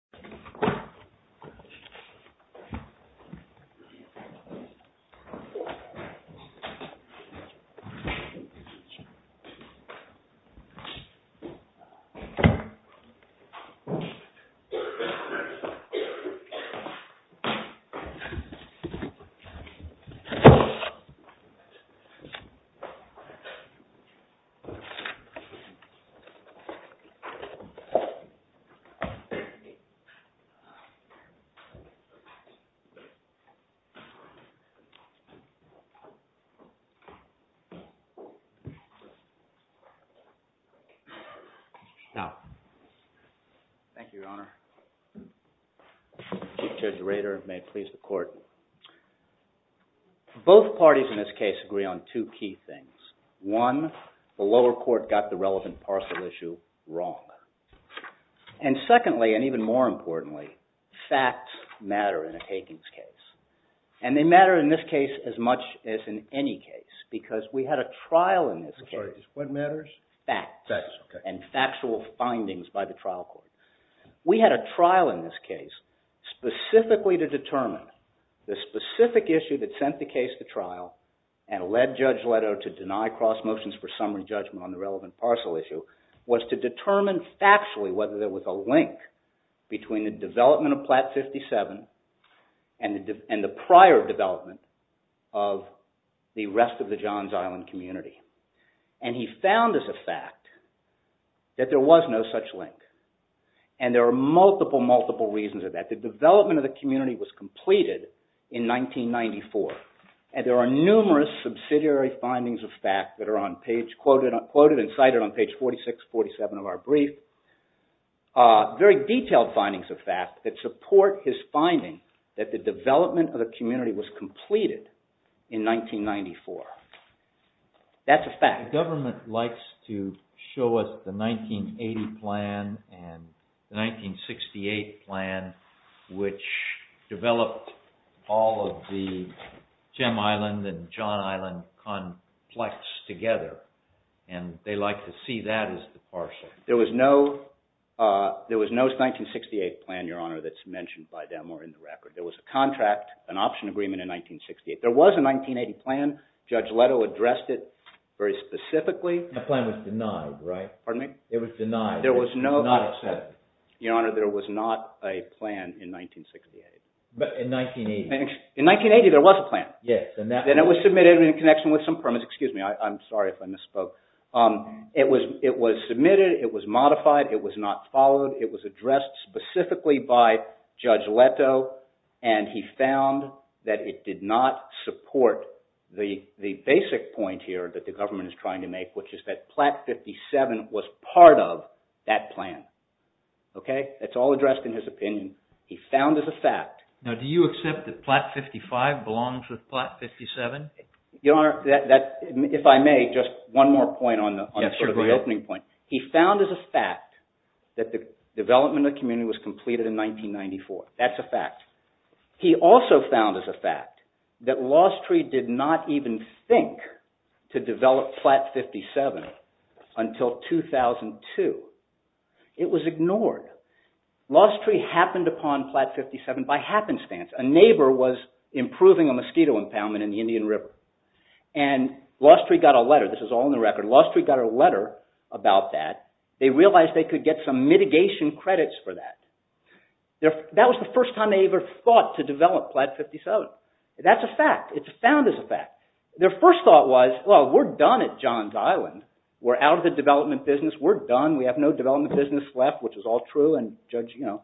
This is the first time I've been here, and I'm excited to show you around. Now, thank you, Your Honor. Chief Judge Rader, may it please the Court. Both parties in this case agree on two key things. One, the lower court got the relevant parcel issue wrong. And secondly, and even more importantly, facts matter in a takings case. And they matter in this case as much as in any case, because we had a trial in this case. What matters? Facts. And factual findings by the trial court. We had a trial in this case specifically to determine the specific issue that sent the case to trial and led Judge Leto to deny cross motions for summary parcel issue was to determine factually whether there was a link between the development of Platte 57 and the prior development of the rest of the Johns Island community. And he found as a fact that there was no such link. And there are multiple, multiple reasons of that. The development of the community was completed in 1994, and there are numerous subsidiary findings of fact that are quoted and cited on page 46, 47 of our brief. Very detailed findings of fact that support his finding that the development of the community was completed in 1994. That's a fact. The government likes to show us the 1980 plan and the 1968 plan, which developed all of the Jim Island and John Island together. And they like to see that as the partial. There was no 1968 plan, Your Honor, that's mentioned by them or in the record. There was a contract, an option agreement in 1968. There was a 1980 plan. Judge Leto addressed it very specifically. The plan was denied, right? Pardon me? It was denied. There was not accepted. Your Honor, there was not a plan in 1968. In 1980. In 1980, there was a plan. Yes. And it was submitted in connection with some permits. Excuse me, I'm sorry if I misspoke. It was submitted. It was modified. It was not followed. It was addressed specifically by Judge Leto, and he found that it did not support the basic point here that the government is trying to make, which is that Platt 57 was part of that plan. Okay? That's all addressed in his opinion. He found as a fact. Now, do you accept that Platt 55 belongs with Platt 57? Your Honor, if I may, just one more point on the opening point. He found as a fact that the development of the community was completed in 1994. That's a fact. He also found as a fact that Lostree did not even think to develop Platt 57 until 2002. It was ignored. Lostree happened upon Platt 57 by happenstance. A neighbor was improving a mosquito impoundment in the Indian River, and Lostree got a letter. This is all in the record. Lostree got a letter about that. They realized they could get some mitigation credits for that. That was the first time they ever thought to develop Platt 57. That's a fact. It's found as a fact. Their first thought was, well, we're done at John's Island. We're out of the development business. We're done. We have no development business left, which is all true, and Judge Gueto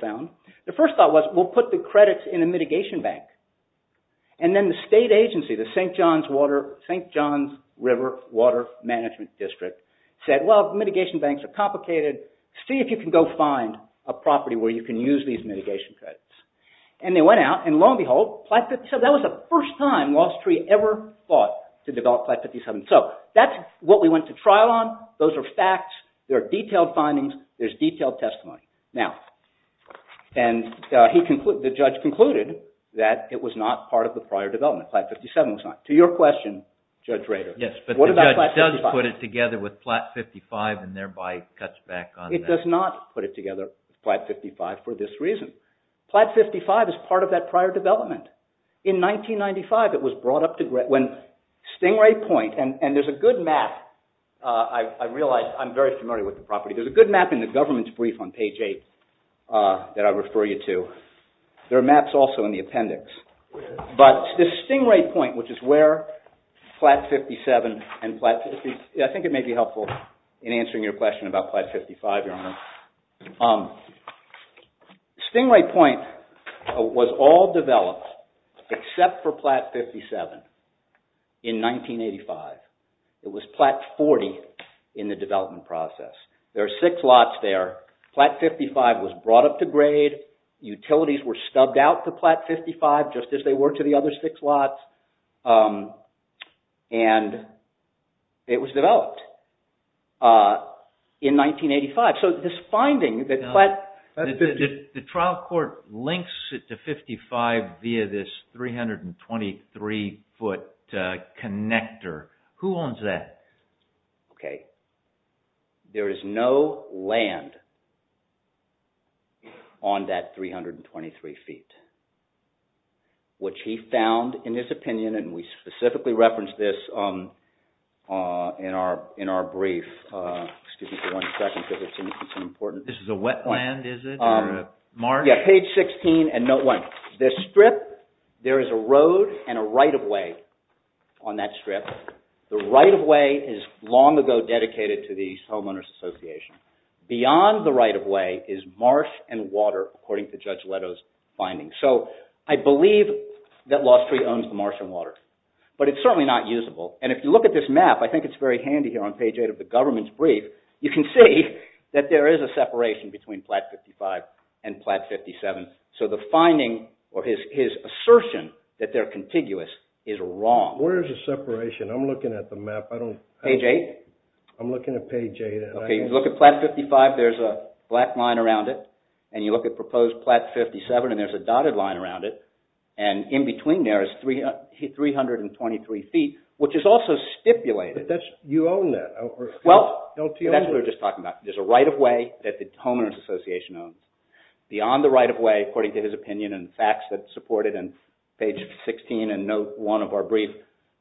found. The first thought was, we'll put the credits in a mitigation bank. Then the state agency, the St. John's River Water Management District said, well, mitigation banks are complicated. See if you can go find a property where you can use these mitigation credits. They went out, and lo and behold, Platt 57. That was the first time Lostree ever thought to develop Platt 57. That's what we went to trial on. Those are facts. There are detailed findings. There's detailed testimony. Now, the judge concluded that it was not part of the prior development. Platt 57 was not. To your question, Judge Rader, what about Platt 55? Yes, but the judge does put it together with Platt 55 and thereby cuts back on that. It does not put it together with Platt 55 for this reason. Platt 55 is part of that prior development. In 1995, it was brought up to when Stingray Point, and there's a good map. I realize I'm very familiar with the property. There's a good map in the government's brief on page 8 that I refer you to. There are maps also in the appendix. But the Stingray Point, which is where Platt 57, and I think it may be helpful in answering your question about Platt 55, your honor. Stingray Point was all There are six lots there. Platt 55 was brought up to grade. Utilities were stubbed out to Platt 55 just as they were to the other six lots, and it was developed in 1985. So, this finding that Platt 55... The trial court links it to 55 via this 323-foot connector. Who owns that? Okay. There is no land on that 323 feet, which he found in his opinion, and we specifically referenced this in our brief. Excuse me for one second, because it's an important... This is a wetland, is it, or a marsh? Yeah, page 16, and note 1. This strip, there is a road and a right-of-way on that strip. The right-of-way is long ago dedicated to the homeowners association. Beyond the right-of-way is marsh and water, according to Judge Leto's findings. So, I believe that Lost Tree owns the marsh and water, but it's certainly not usable. And if you look at this map, I think it's very handy here on page 8 of the government's brief, you can see that there is a separation between Platt 55 and Platt 57. So, the finding or his assertion that they're contiguous is wrong. Where is the separation? I'm looking at the map. I don't... Page 8? I'm looking at page 8. Okay, you look at Platt 55, there's a black line around it, and you look at proposed Platt 57, and there's a dotted line around it, and in between there is 323 feet, which is also stipulated. But that's... You own that. Well, that's what we were just talking about. There's a right-of-way that the homeowners association owns. Beyond the right-of-way, according to his opinion and facts that support it, and page 16 and note 1 of our brief,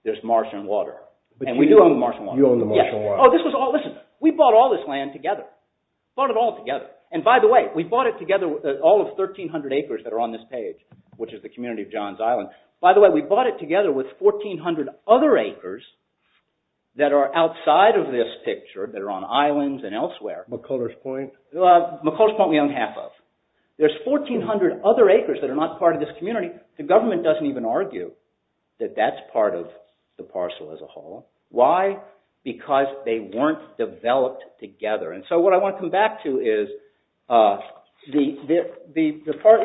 there's marsh and water. And we do own the marsh and water. You own the marsh and water. Oh, this was all... Listen, we bought all this land together. Bought it all together. And by the way, we bought it together, all of 1,300 acres that are on this page, which is the community of John's Island. By the way, we bought it together with 1,400 other acres that are outside of this picture, that are on islands and elsewhere. McCullers Point? McCullers Point, we own half of. There's 1,400 other acres that are not part of this community. The rest of it, that's part of the parcel as a whole. Why? Because they weren't developed together. And so what I want to come back to is the part...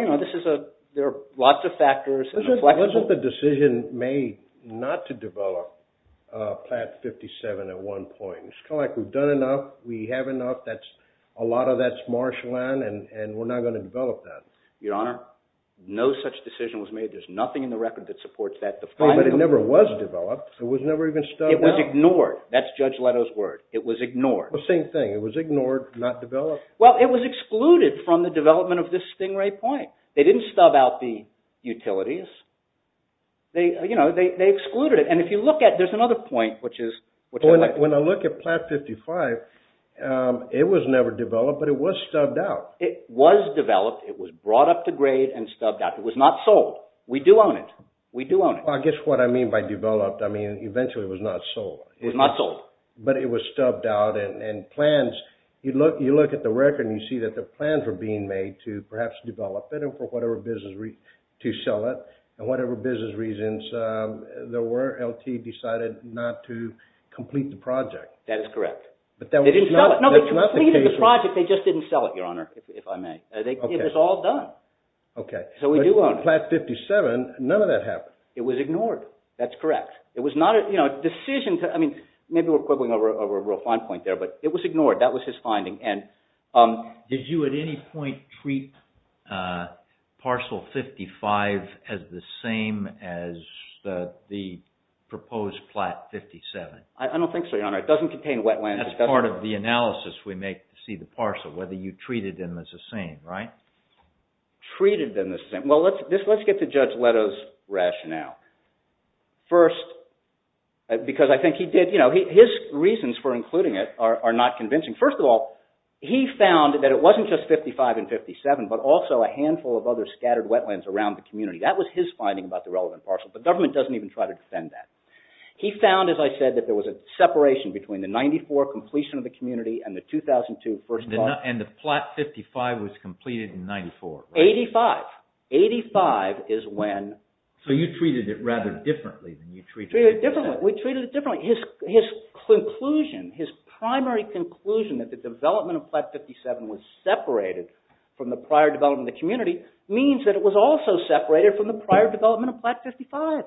There are lots of factors and inflections. Wasn't the decision made not to develop Platte 57 at one point? It's kind of like we've done enough, we have enough, a lot of that's marsh land, and we're not going to develop that. Your Honor, no such decision was made. There's nothing in the record that supports that. But it never was developed. It was never even stubbed out. It was ignored. That's Judge Leto's word. It was ignored. Well, same thing. It was ignored, not developed. Well, it was excluded from the development of this Stingray Point. They didn't stub out the utilities. They excluded it. And if you look at... There's another point, which is... When I look at Platte 55, it was never developed, but it was stubbed out. It was developed. It was brought up to grade and stubbed out. It was not sold. We do own it. We do own it. Well, I guess what I mean by developed, I mean, eventually it was not sold. It was not sold. But it was stubbed out and plans... You look at the record and you see that the plans were being made to perhaps develop it and for whatever business reason to sell it. And whatever business reasons there were, LT decided not to complete the project. That is correct. They didn't sell it. They completed the project. They just didn't sell it, Your Honor, if I may. It was all done. Okay. So we do own it. Platte 57, none of that happened. It was ignored. That's correct. It was not a decision to... I mean, maybe we're quibbling over a real fine point there, but it was ignored. That was his finding. Did you at any point treat Parcel 55 as the same as the proposed Platte 57? I don't think so, Your Honor. It doesn't contain wetlands. That's part of the analysis we make to see the parcel, whether you treated them as the same, right? Treated them as the same. Well, let's get to Judge Leto's rationale. First, because I think he did... His reasons for including it are not convincing. First of all, he found that it wasn't just 55 and 57, but also a handful of other scattered wetlands around the community. That was his finding about the relevant parcel, but government doesn't even try to defend that. He found, as I said, that there was a separation between the 94 completion of the community and the 2002 first... And the Platte 55 was completed in 94, right? 85. 85 is when... So you treated it rather differently than you treated... We treated it differently. His conclusion, his primary conclusion that the development of Platte 57 was separated from the prior development of the community means that it was also separated from the prior development of Platte 55.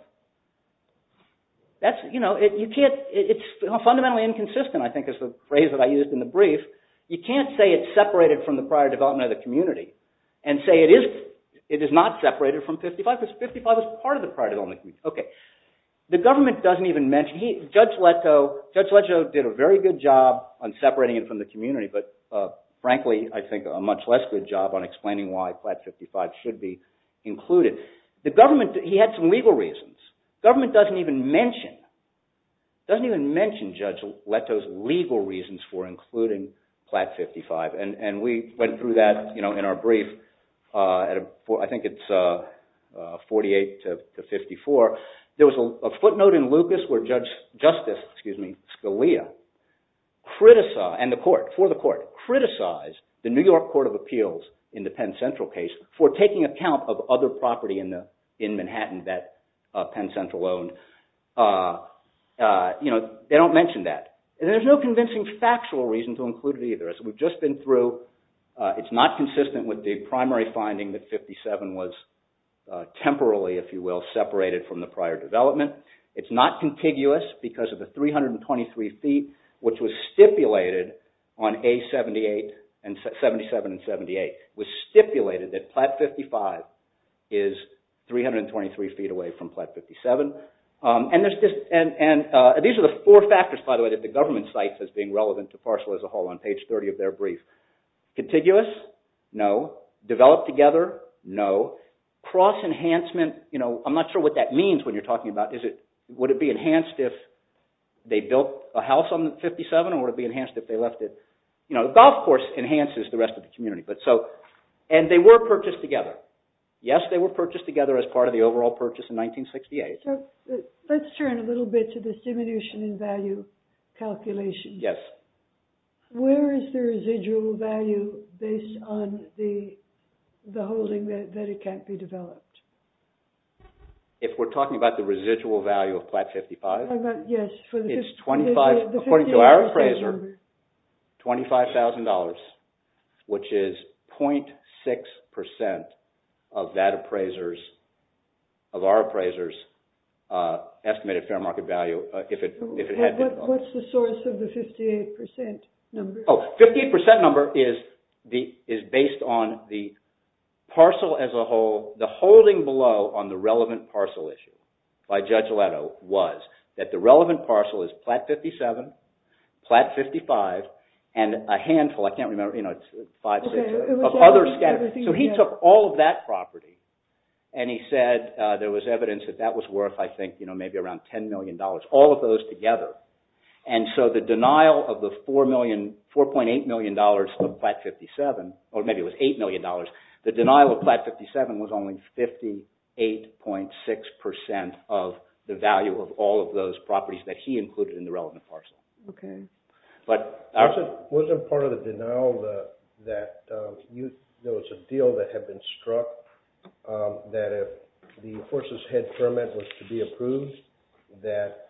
It's fundamentally inconsistent, I think is the phrase that I used in the brief. You can't say it's separated from the prior development of the community and say it is not separated from 55 because 55 was part of the prior development. Okay. The government doesn't even mention... Judge Leto did a very good job on separating it from the community, but frankly, I think a much less good job on explaining why Platte 55 should be included. The government, he had some legal reasons. Government doesn't even mention, doesn't even mention Judge Leto's legal reasons for including Platte 55, and we went through that in our brief, I think it's 48 to 54. There was a footnote in Lucas where Justice Scalia criticized, and the court, for the court, criticized the New York Court of Appeals in the Penn Central case for taking account of other property in Manhattan that Penn Central owned. They don't mention that. There's no convincing factual reason to include it either. As we've just been through, it's not consistent with the primary finding that 57 was temporarily, if you will, separated from the prior development. It's not contiguous because of the 323 feet, which was stipulated on A-77 and 78, was stipulated that Platte 55 is 323 feet away from Platte 57. These are the four factors, by the way, that the government cites as being relevant to parcel as a whole on page 30 of their brief. Contiguous? No. Developed together? No. Cross-enhancement? I'm not sure what that means when you're talking about, would it be enhanced if they built a house on 57, or would it be enhanced if they left it? The golf course enhances the rest of the community. They were purchased together. Yes, they were purchased together as part of the overall purchase in 1968. Let's turn a little bit to this diminution in value calculation. Where is the residual value based on the holding that it can't be developed? If we're talking about the residual value of Platte 55? Yes. It's 25, according to our appraiser, $25,000, which is 0.6% of that appraiser's, of our appraiser's estimated fair market value if it had been developed. What's the source of the 58% number? Oh, 58% number is based on the as a whole, the holding below on the relevant parcel issue by Judge Leto was that the relevant parcel is Platte 57, Platte 55, and a handful, I can't remember, 5, 6, of other scatterings. He took all of that property and he said there was evidence that that was worth, I think, maybe around $10 million, all of those together. The denial of the $4.8 million of Platte 57, or maybe it was $8 million, the denial of Platte 57 was only 58.6% of the value of all of those properties that he included in the relevant parcel. Okay. But, wasn't part of the denial that there was a deal that had been struck that if the enforcers head permit was to be approved that,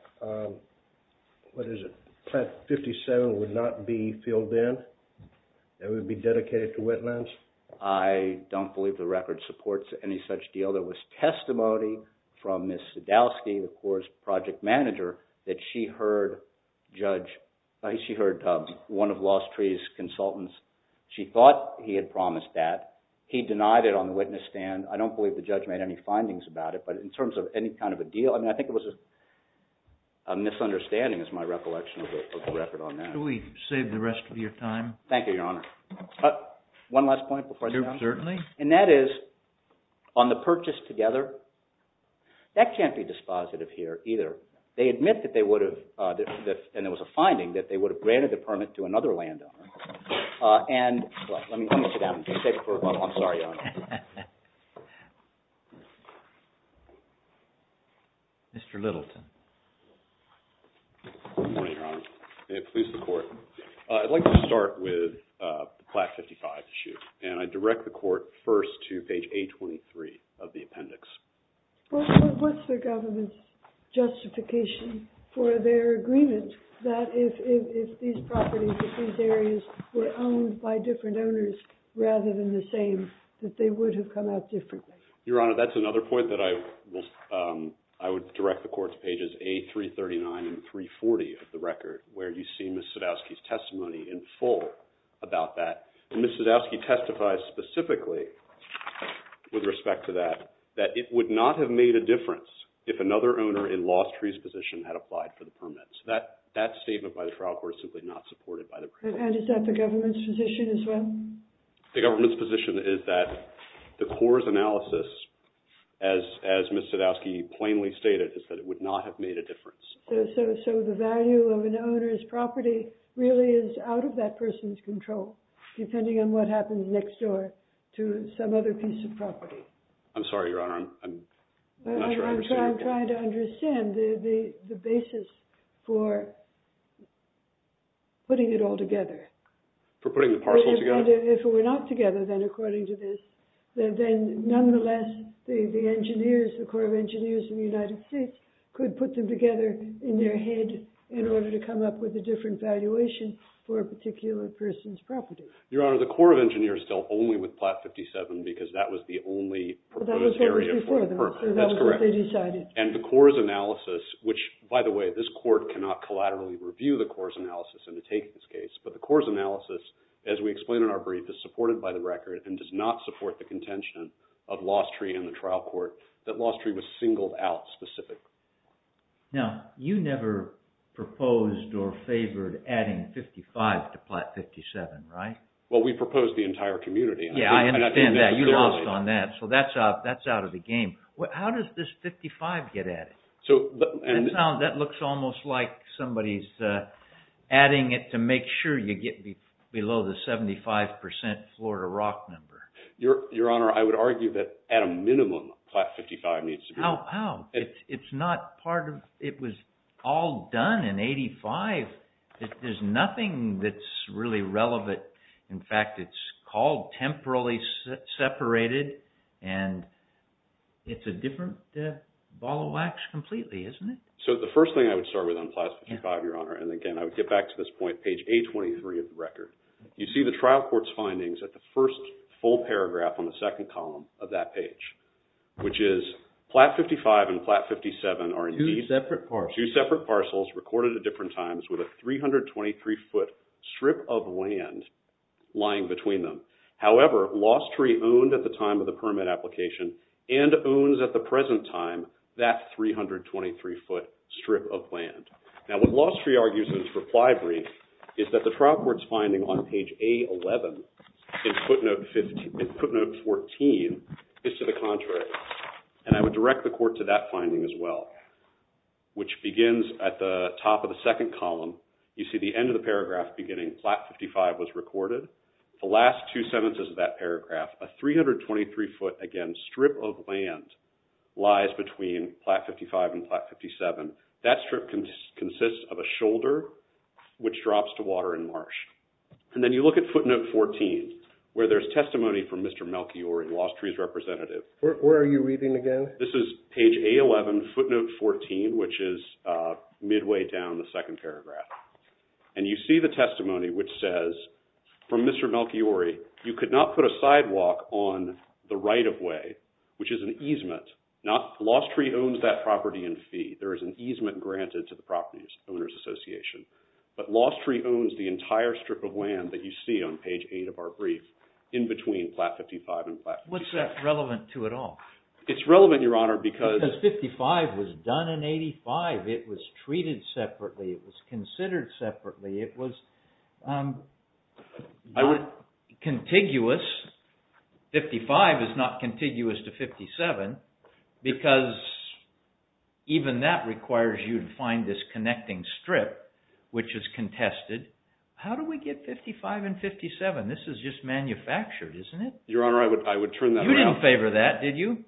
what is it, Platte 57 would not be filled in? It would be dedicated to wetlands? I don't believe the record supports any such deal. There was testimony from Ms. Sadowski, of course, project manager, that she heard Judge, she heard one of Lost Tree's consultants. She thought he had promised that. He denied it on the witness stand. I don't believe the judge made any findings about it, but in terms of any kind of a deal, I mean, I think it was a misunderstanding, is my recollection of the record on that. Can we save the rest of your time? Thank you, Your Honor. One last point before I... Certainly. And that is, on the purchase together, that can't be dispositive here either. They admit that they would have, and there was a finding, that they would have granted the permit to another landowner. And, let me sit down and just take it for a moment. I'm sorry, Your Honor. Mr. Littleton. Good morning, Your Honor. May it please the Court. I'd like to start with the Platte 55 issue, and I direct the Court first to page 823 of the appendix. What's the government's justification for their agreement that if these properties, if these areas, were owned by different owners, rather than the same, that they would have come out differently? Your Honor, that's another point that I will... I would direct the Court to pages A339 and 340 of the record, where you see Ms. Sadowsky's testimony in full about that. Ms. Sadowsky testified specifically with respect to that, that it would not have made a difference if another owner in Lost Tree's position had applied for the permit. So that statement by the trial court is simply not supported by the permit. And is that the government's position as well? The government's position is that the court's analysis, as Ms. Sadowsky plainly stated, is that it would not have made a difference. So the value of an owner's property really is out of that person's control, depending on what happens next door to some other piece of property. I'm sorry, Your Honor. I'm not sure I understand. I'm trying to understand the basis for putting it all together. For putting the parcel together? If it were not together, then according to this, then nonetheless, the engineers, the Corps of Engineers in the United States, could put them together in their head in order to come up with a different valuation for a particular person's property. Your Honor, the Corps of Engineers dealt only with Plat 57, because that was the only proposed area for them. That's correct. And the Corps' analysis, which, by the way, this court cannot collaterally review the Corps' analysis and to take this case, but the Corps' analysis, as we explained in our brief, is supported by the record and does not support the contention of Lost Tree and the trial court, that Lost Tree was singled out specifically. Now, you never proposed or favored adding 55 to Plat 57, right? Well, we proposed the entire community. Yeah, I understand that. You lost on that, so that's out of the game. How does this 55 get added? That looks almost like somebody's adding it to make sure you get below the 75% Florida rock number. Your Honor, I would argue that at a minimum, Plat 55 needs to be... How? It's not part of... It was all done in 85. There's nothing that's really relevant. In fact, it's called temporally separated and it's a different ball of wax completely, isn't it? So, the first thing I would start with on Plat 55, Your Honor, and again, I would get back to this point, page 823 of the record. You see the trial court's findings at the first full paragraph on the second column of that page, which is Plat 55 and Plat 57 are... Two separate parcels. Two separate parcels recorded at different times with a 323-foot strip of land lying between them. However, Lost Tree owned at the time of the permit application and owns at the present time that 323-foot strip of land. Now, what Lost Tree argues in its reply brief is that the trial court's finding on page A11 in footnote 14 is to the contrary. And I would direct the court to that finding as well, which begins at the top of the second column. You see the end of the paragraph beginning, Plat 55 was recorded. The last two sentences of that paragraph, a 323-foot, again, strip of land lies between Plat 55 and Plat 57. That strip consists of a shoulder, which drops to water and marsh. And then you look at footnote 14, where there's testimony from Mr. Melchiore, Lost Tree's representative. Where are you reading again? This is page A11, footnote 14, which is midway down the second paragraph. And you see the testimony which says, from Mr. Melchiore, you could not put a sidewalk on the right-of-way, which is an easement. Lost Tree owns that property in fee. There is an easement granted to the property owners association. But Lost Tree owns the entire strip of land that you see on page 8 of our brief in between Plat 55 and Plat 57. What's that relevant to at all? It's relevant, Your Honor, because... Because 55 was done in 85. It was treated separately. It was considered separately. It was contiguous. 55 is not contiguous to 57, because even that requires you to find this connecting strip, which is contested. How do we get 55 and 57? This is just manufactured, isn't it? Your Honor, I would turn that around. You didn't favor that, did you?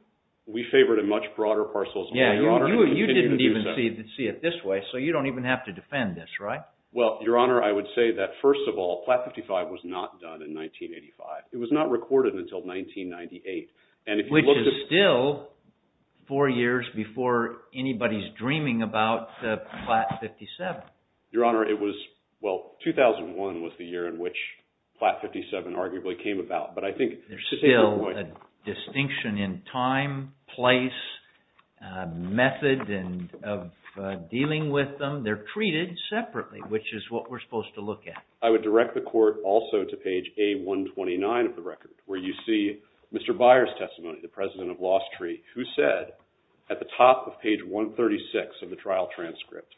We favored a much broader parcel. Yeah, you didn't even see it this way, so you don't even have to defend this, right? Well, Your Honor, I would say that, first of all, Plat 55 was not done in 1985. It was not recorded until 1998. Which is still four years before anybody's dreaming about Plat 57. Your Honor, it was, well, 2001 was the year in which Plat 57 arguably came about. But I think there's still a distinction in time, place, method of dealing with them. They're treated separately, which is what we're supposed to look at. I would direct the Court also to page A129 of the record, where you see Mr. Byer's testimony, the president of Lost Tree, who said at the top of page 136 of the trial transcript,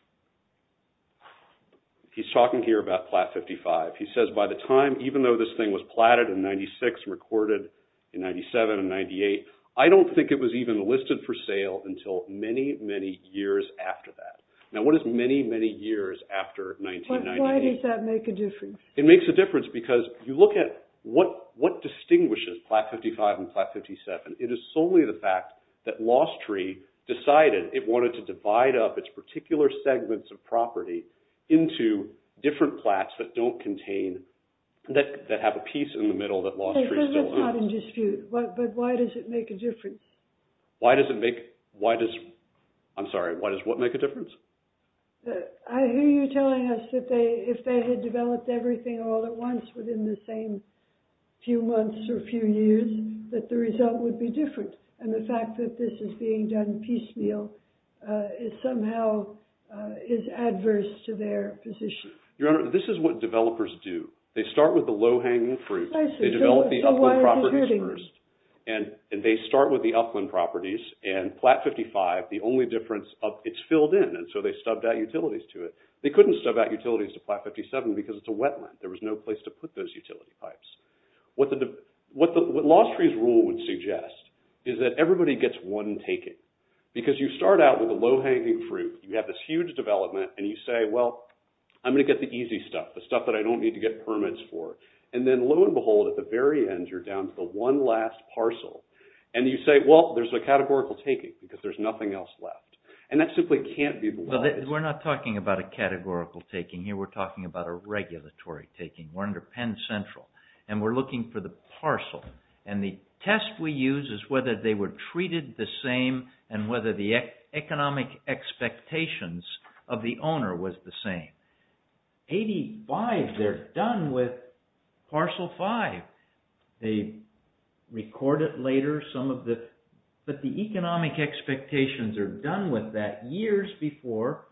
he's talking here about Plat 55. He says, by the time, even though this thing was platted in 96 and recorded in 97 and 98, I don't think it was even listed for sale until many, many years after that. Now, what is many, many years after 1998? Why does that make a difference? It makes a difference, because if you look at what distinguishes Plat 55 and Plat 57, it is solely the fact that Lost Tree decided it wanted to divide up its particular segments of property into different plats that don't contain, that have a piece in the middle that Lost Tree still owns. That's not in dispute, but why does it make a difference? Why does it make, why does, I'm sorry, why does what make a difference? I hear you telling us that if they had developed everything all at once within the same few months or few years, that the result would be different, and the fact that this is being done piecemeal, it somehow is adverse to their position. Your Honor, this is what developers do. They start with the low-hanging fruit. I see. They develop the upland properties first, and they start with the upland properties, and Plat 55, the only difference, it's filled in, and so they stubbed out utilities to it. They couldn't stub out utilities to Plat 57 because it's a wetland. There was no place to put those utility pipes. What Lost Tree's rule would suggest is that everybody gets one taking, because you start out with a low-hanging fruit. You have this huge development, and you say, well, I'm going to get the easy stuff, the stuff that I don't need to get permits for. And then, lo and behold, at the very end, you're down to the one last parcel. And you say, well, there's a categorical taking, because there's nothing else left. And that simply can't be the one. We're not talking about a categorical taking here. We're talking about a regulatory taking. We're under Penn Central, and we're looking for the parcel, and the test we use is whether they were treated the same, and whether the economic expectations of the owner was the same. 85, they're done with Parcel 5. They record it later. But the economic expectations are done with that years before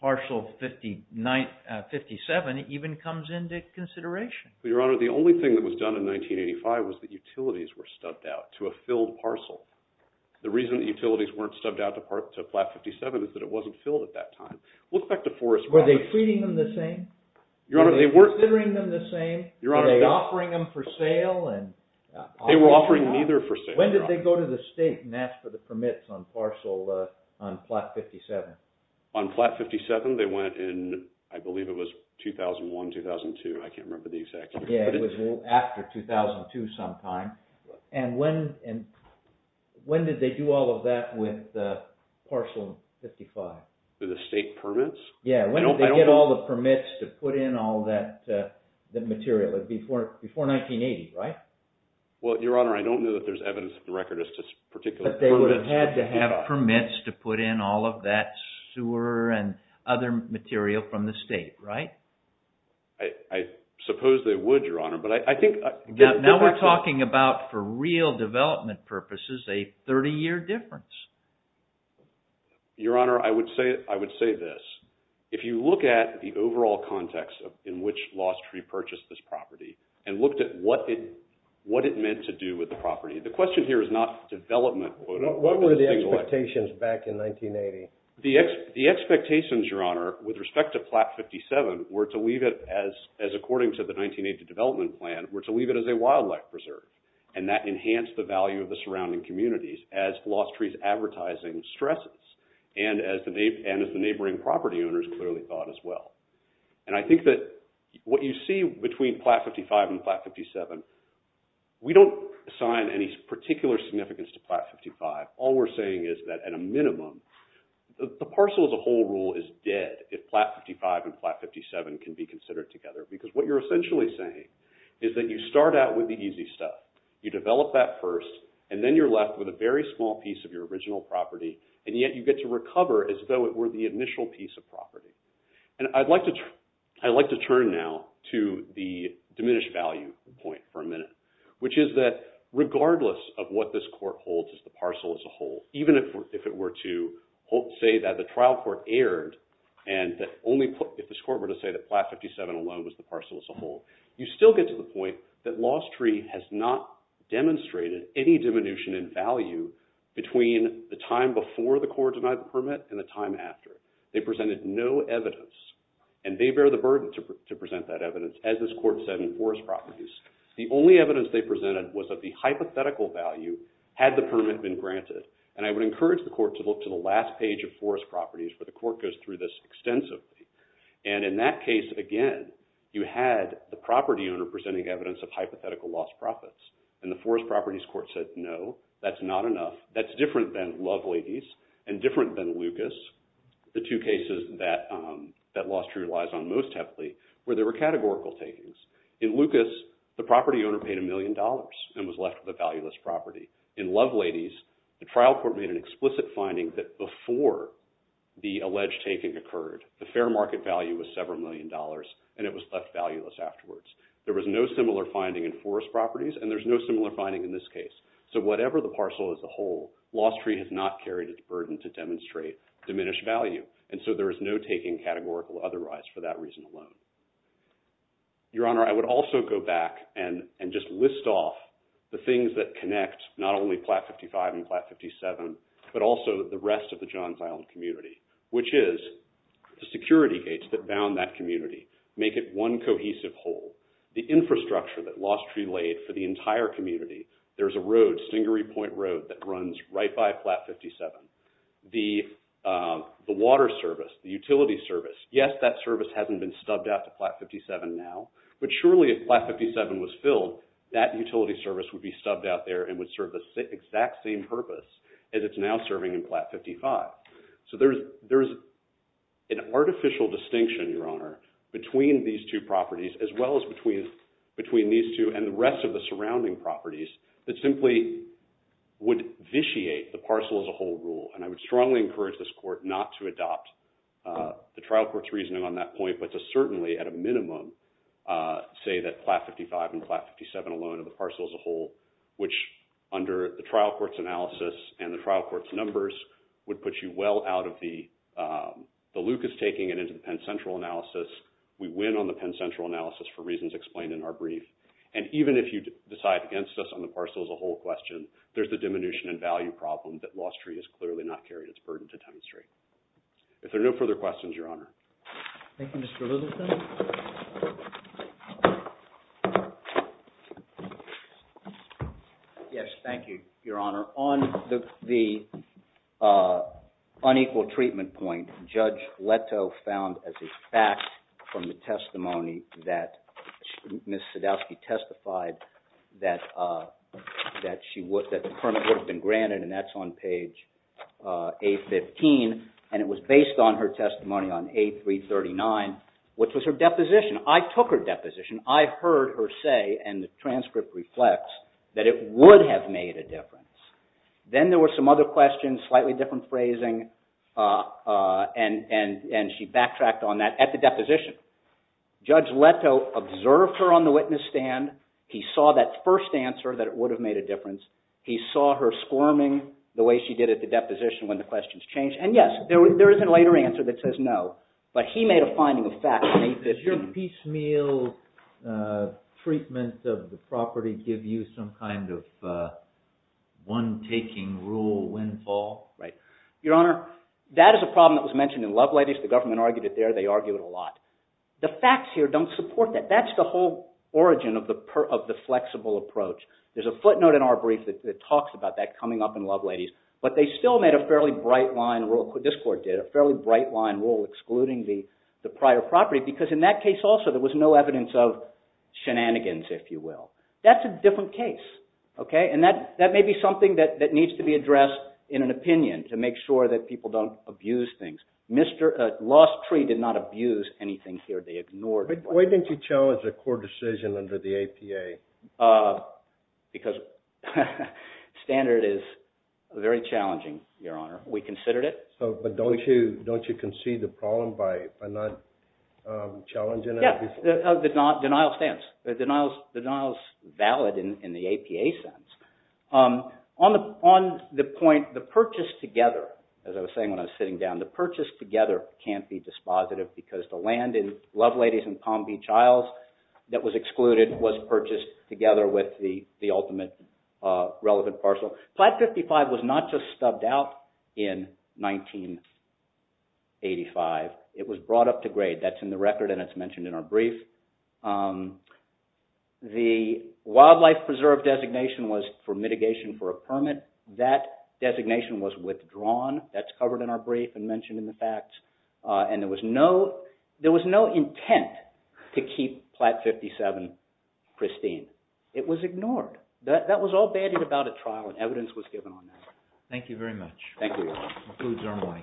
Parcel 57 even comes into consideration. Well, Your Honor, the only thing that was done in 1985 was that utilities were stubbed out to a filled parcel. The reason that utilities weren't stubbed out to Plat 57 is that it wasn't filled at that time. We'll get back to Forest Park. Were they treating them the same? Your Honor, they weren't... Were they considering them the same? Your Honor... Were they offering them for sale? They were offering neither for sale, Your Honor. When did they go to the state and ask for the permits on Parcel, on Plat 57? On Plat 57, they went in, I believe it was 2001, 2002. I can't remember the exact year. Yeah, it was after 2002 sometime. And when did they do all of that with Parcel 55? Through the state permits? Yeah, when did they get all the permits to put in all that material? It was before 1980, right? Well, Your Honor, I don't know that there's evidence of the record as to particular permits. But they would have had to have permits to put in all of that sewer and other material from the state, right? I suppose they would, Your Honor. But I think... Now we're talking about, for real development purposes, a 30-year difference. Your Honor, I would say this. If you look at the overall context in which Lost Tree purchased this property and looked at what it meant to do with the property, the question here is not development, quote-unquote. What were the expectations back in 1980? The expectations, Your Honor, with respect to Plat 57 were to leave it as, according to the 1980 development plan, were to leave it as a wildlife preserve. And that enhanced the value of the surrounding communities as Lost Tree's advertising stresses and as the neighboring property owners clearly thought as well. And I think that what you see between Plat 55 and Plat 57, we don't assign any particular significance to Plat 55. All we're saying is that, at a minimum, the parcel as a whole rule is dead if Plat 55 and Plat 57 can be considered together. Because what you're essentially saying is that you start out with the easy stuff. You develop that first. And then you're left with a very small piece of your original property. And yet you get to recover as though it were the initial piece of property. And I'd like to turn now to the diminished value point for a minute, which is that regardless of what this court holds as the parcel as a whole, even if it were to say that the trial court erred and that only if this court were to say that Plat 57 alone was the parcel as a whole, you still get to the point that Lost Tree has not demonstrated any diminution in value between the time before the court denied the permit and the time after. They presented no evidence. And they bear the burden to present that evidence, as this court said in Forest Properties. The only evidence they presented was that the hypothetical value had the permit been granted. And I would encourage the court to look to the last page of Forest Properties, where the court goes through this extensively. And in that case, again, you had the property owner presenting evidence of hypothetical lost profits. And the Forest Properties court said, no, that's not enough. That's different than Love Ladies and different than Lucas, the two cases that Lost Tree relies on most heavily, where there were categorical takings. In Lucas, the property owner paid a million dollars and was left with a valueless property. In Love Ladies, the trial court made an explicit finding that before the alleged taking occurred, the fair market value was several million dollars, and it was left valueless afterwards. There was no similar finding in Forest Properties, and there's no similar finding in this case. So whatever the parcel as a whole, Lost Tree has not carried its burden to demonstrate diminished value. And so there is no taking categorical otherwise for that reason alone. Your Honor, I would also go back and just list off the things that connect not only Plat 55 and Plat 57, but also the rest of the Johns Island community, which is the security gates that bound that community make it one cohesive whole. The infrastructure that Lost Tree laid for the entire community, there's a road, Stingery Point Road, that runs right by Plat 57. The water service, the utility service, yes, that service hasn't been stubbed out to Plat 57 now, but surely if Plat 57 was filled, that utility service would be stubbed out there and would serve the exact same purpose as it's now serving in Plat 55. So there's an artificial distinction, Your Honor, between these two properties, as well as between these two and the rest of the surrounding properties, that simply would vitiate the parcel as a whole rule. And I would strongly encourage this court not to adopt the trial court's reasoning on that point, but to certainly at a minimum say that Plat 55 and Plat 57 alone are the parcel as a whole, which under the trial court's analysis and the trial court's numbers would put you well out of the Lucas taking it into the Penn Central analysis. We win on the Penn Central analysis for reasons explained in our brief. And even if you decide against us on the parcel as a whole question, there's the diminution in value problem that Lost Tree has clearly not carried its burden to demonstrate. If there are no further questions, Your Honor. Thank you, Mr. Littleton. Yes, thank you, Your Honor. On the unequal treatment point, Judge Leto found as a fact from the testimony that Ms. Sadowski testified that the permit would have been granted, and that's on page A15, and it was based on her testimony on A339, which was her deposition. I took her deposition. I heard her say, and the transcript reflects, that it would have made a difference. Then there were some other questions, slightly different phrasing, and she backtracked on that at the deposition. Judge Leto observed her on the witness stand. He saw that first answer that it would have made a difference. He saw her squirming the way she did at the deposition when the questions changed. Yes, there is a later answer that says no, but he made a finding of facts. Does your piecemeal treatment of the property give you some kind of one-taking rule windfall? Right. Your Honor, that is a problem that was mentioned in Love Ladies. The government argued it there. They argue it a lot. The facts here don't support that. That's the whole origin of the flexible approach. There's a footnote in our brief that talks about that coming up in Love Ladies, but they still made a fairly bright line rule. This court did a fairly bright line rule excluding the prior property, because in that case also there was no evidence of shenanigans, if you will. That's a different case. That may be something that needs to be addressed in an opinion to make sure that people don't abuse things. Lost Tree did not abuse anything here. They ignored it. Why didn't you challenge a court decision under the APA? Because standard is very challenging, Your Honor. We considered it. So, but don't you concede the problem by not challenging it? Yeah. Denial stands. Denial is valid in the APA sense. On the point, the purchase together, as I was saying when I was sitting down, the purchase together can't be dispositive, because the land in Love Ladies and Palm Beach that was excluded was purchased together with the ultimate relevant parcel. Plat 55 was not just stubbed out in 1985. It was brought up to grade. That's in the record and it's mentioned in our brief. The wildlife preserve designation was for mitigation for a permit. That designation was withdrawn. That's covered in our brief and mentioned in the facts. And there was no intent to keep Plat 57 pristine. It was ignored. That was all batted about at trial and evidence was given on that. Thank you very much. Thank you, Your Honor.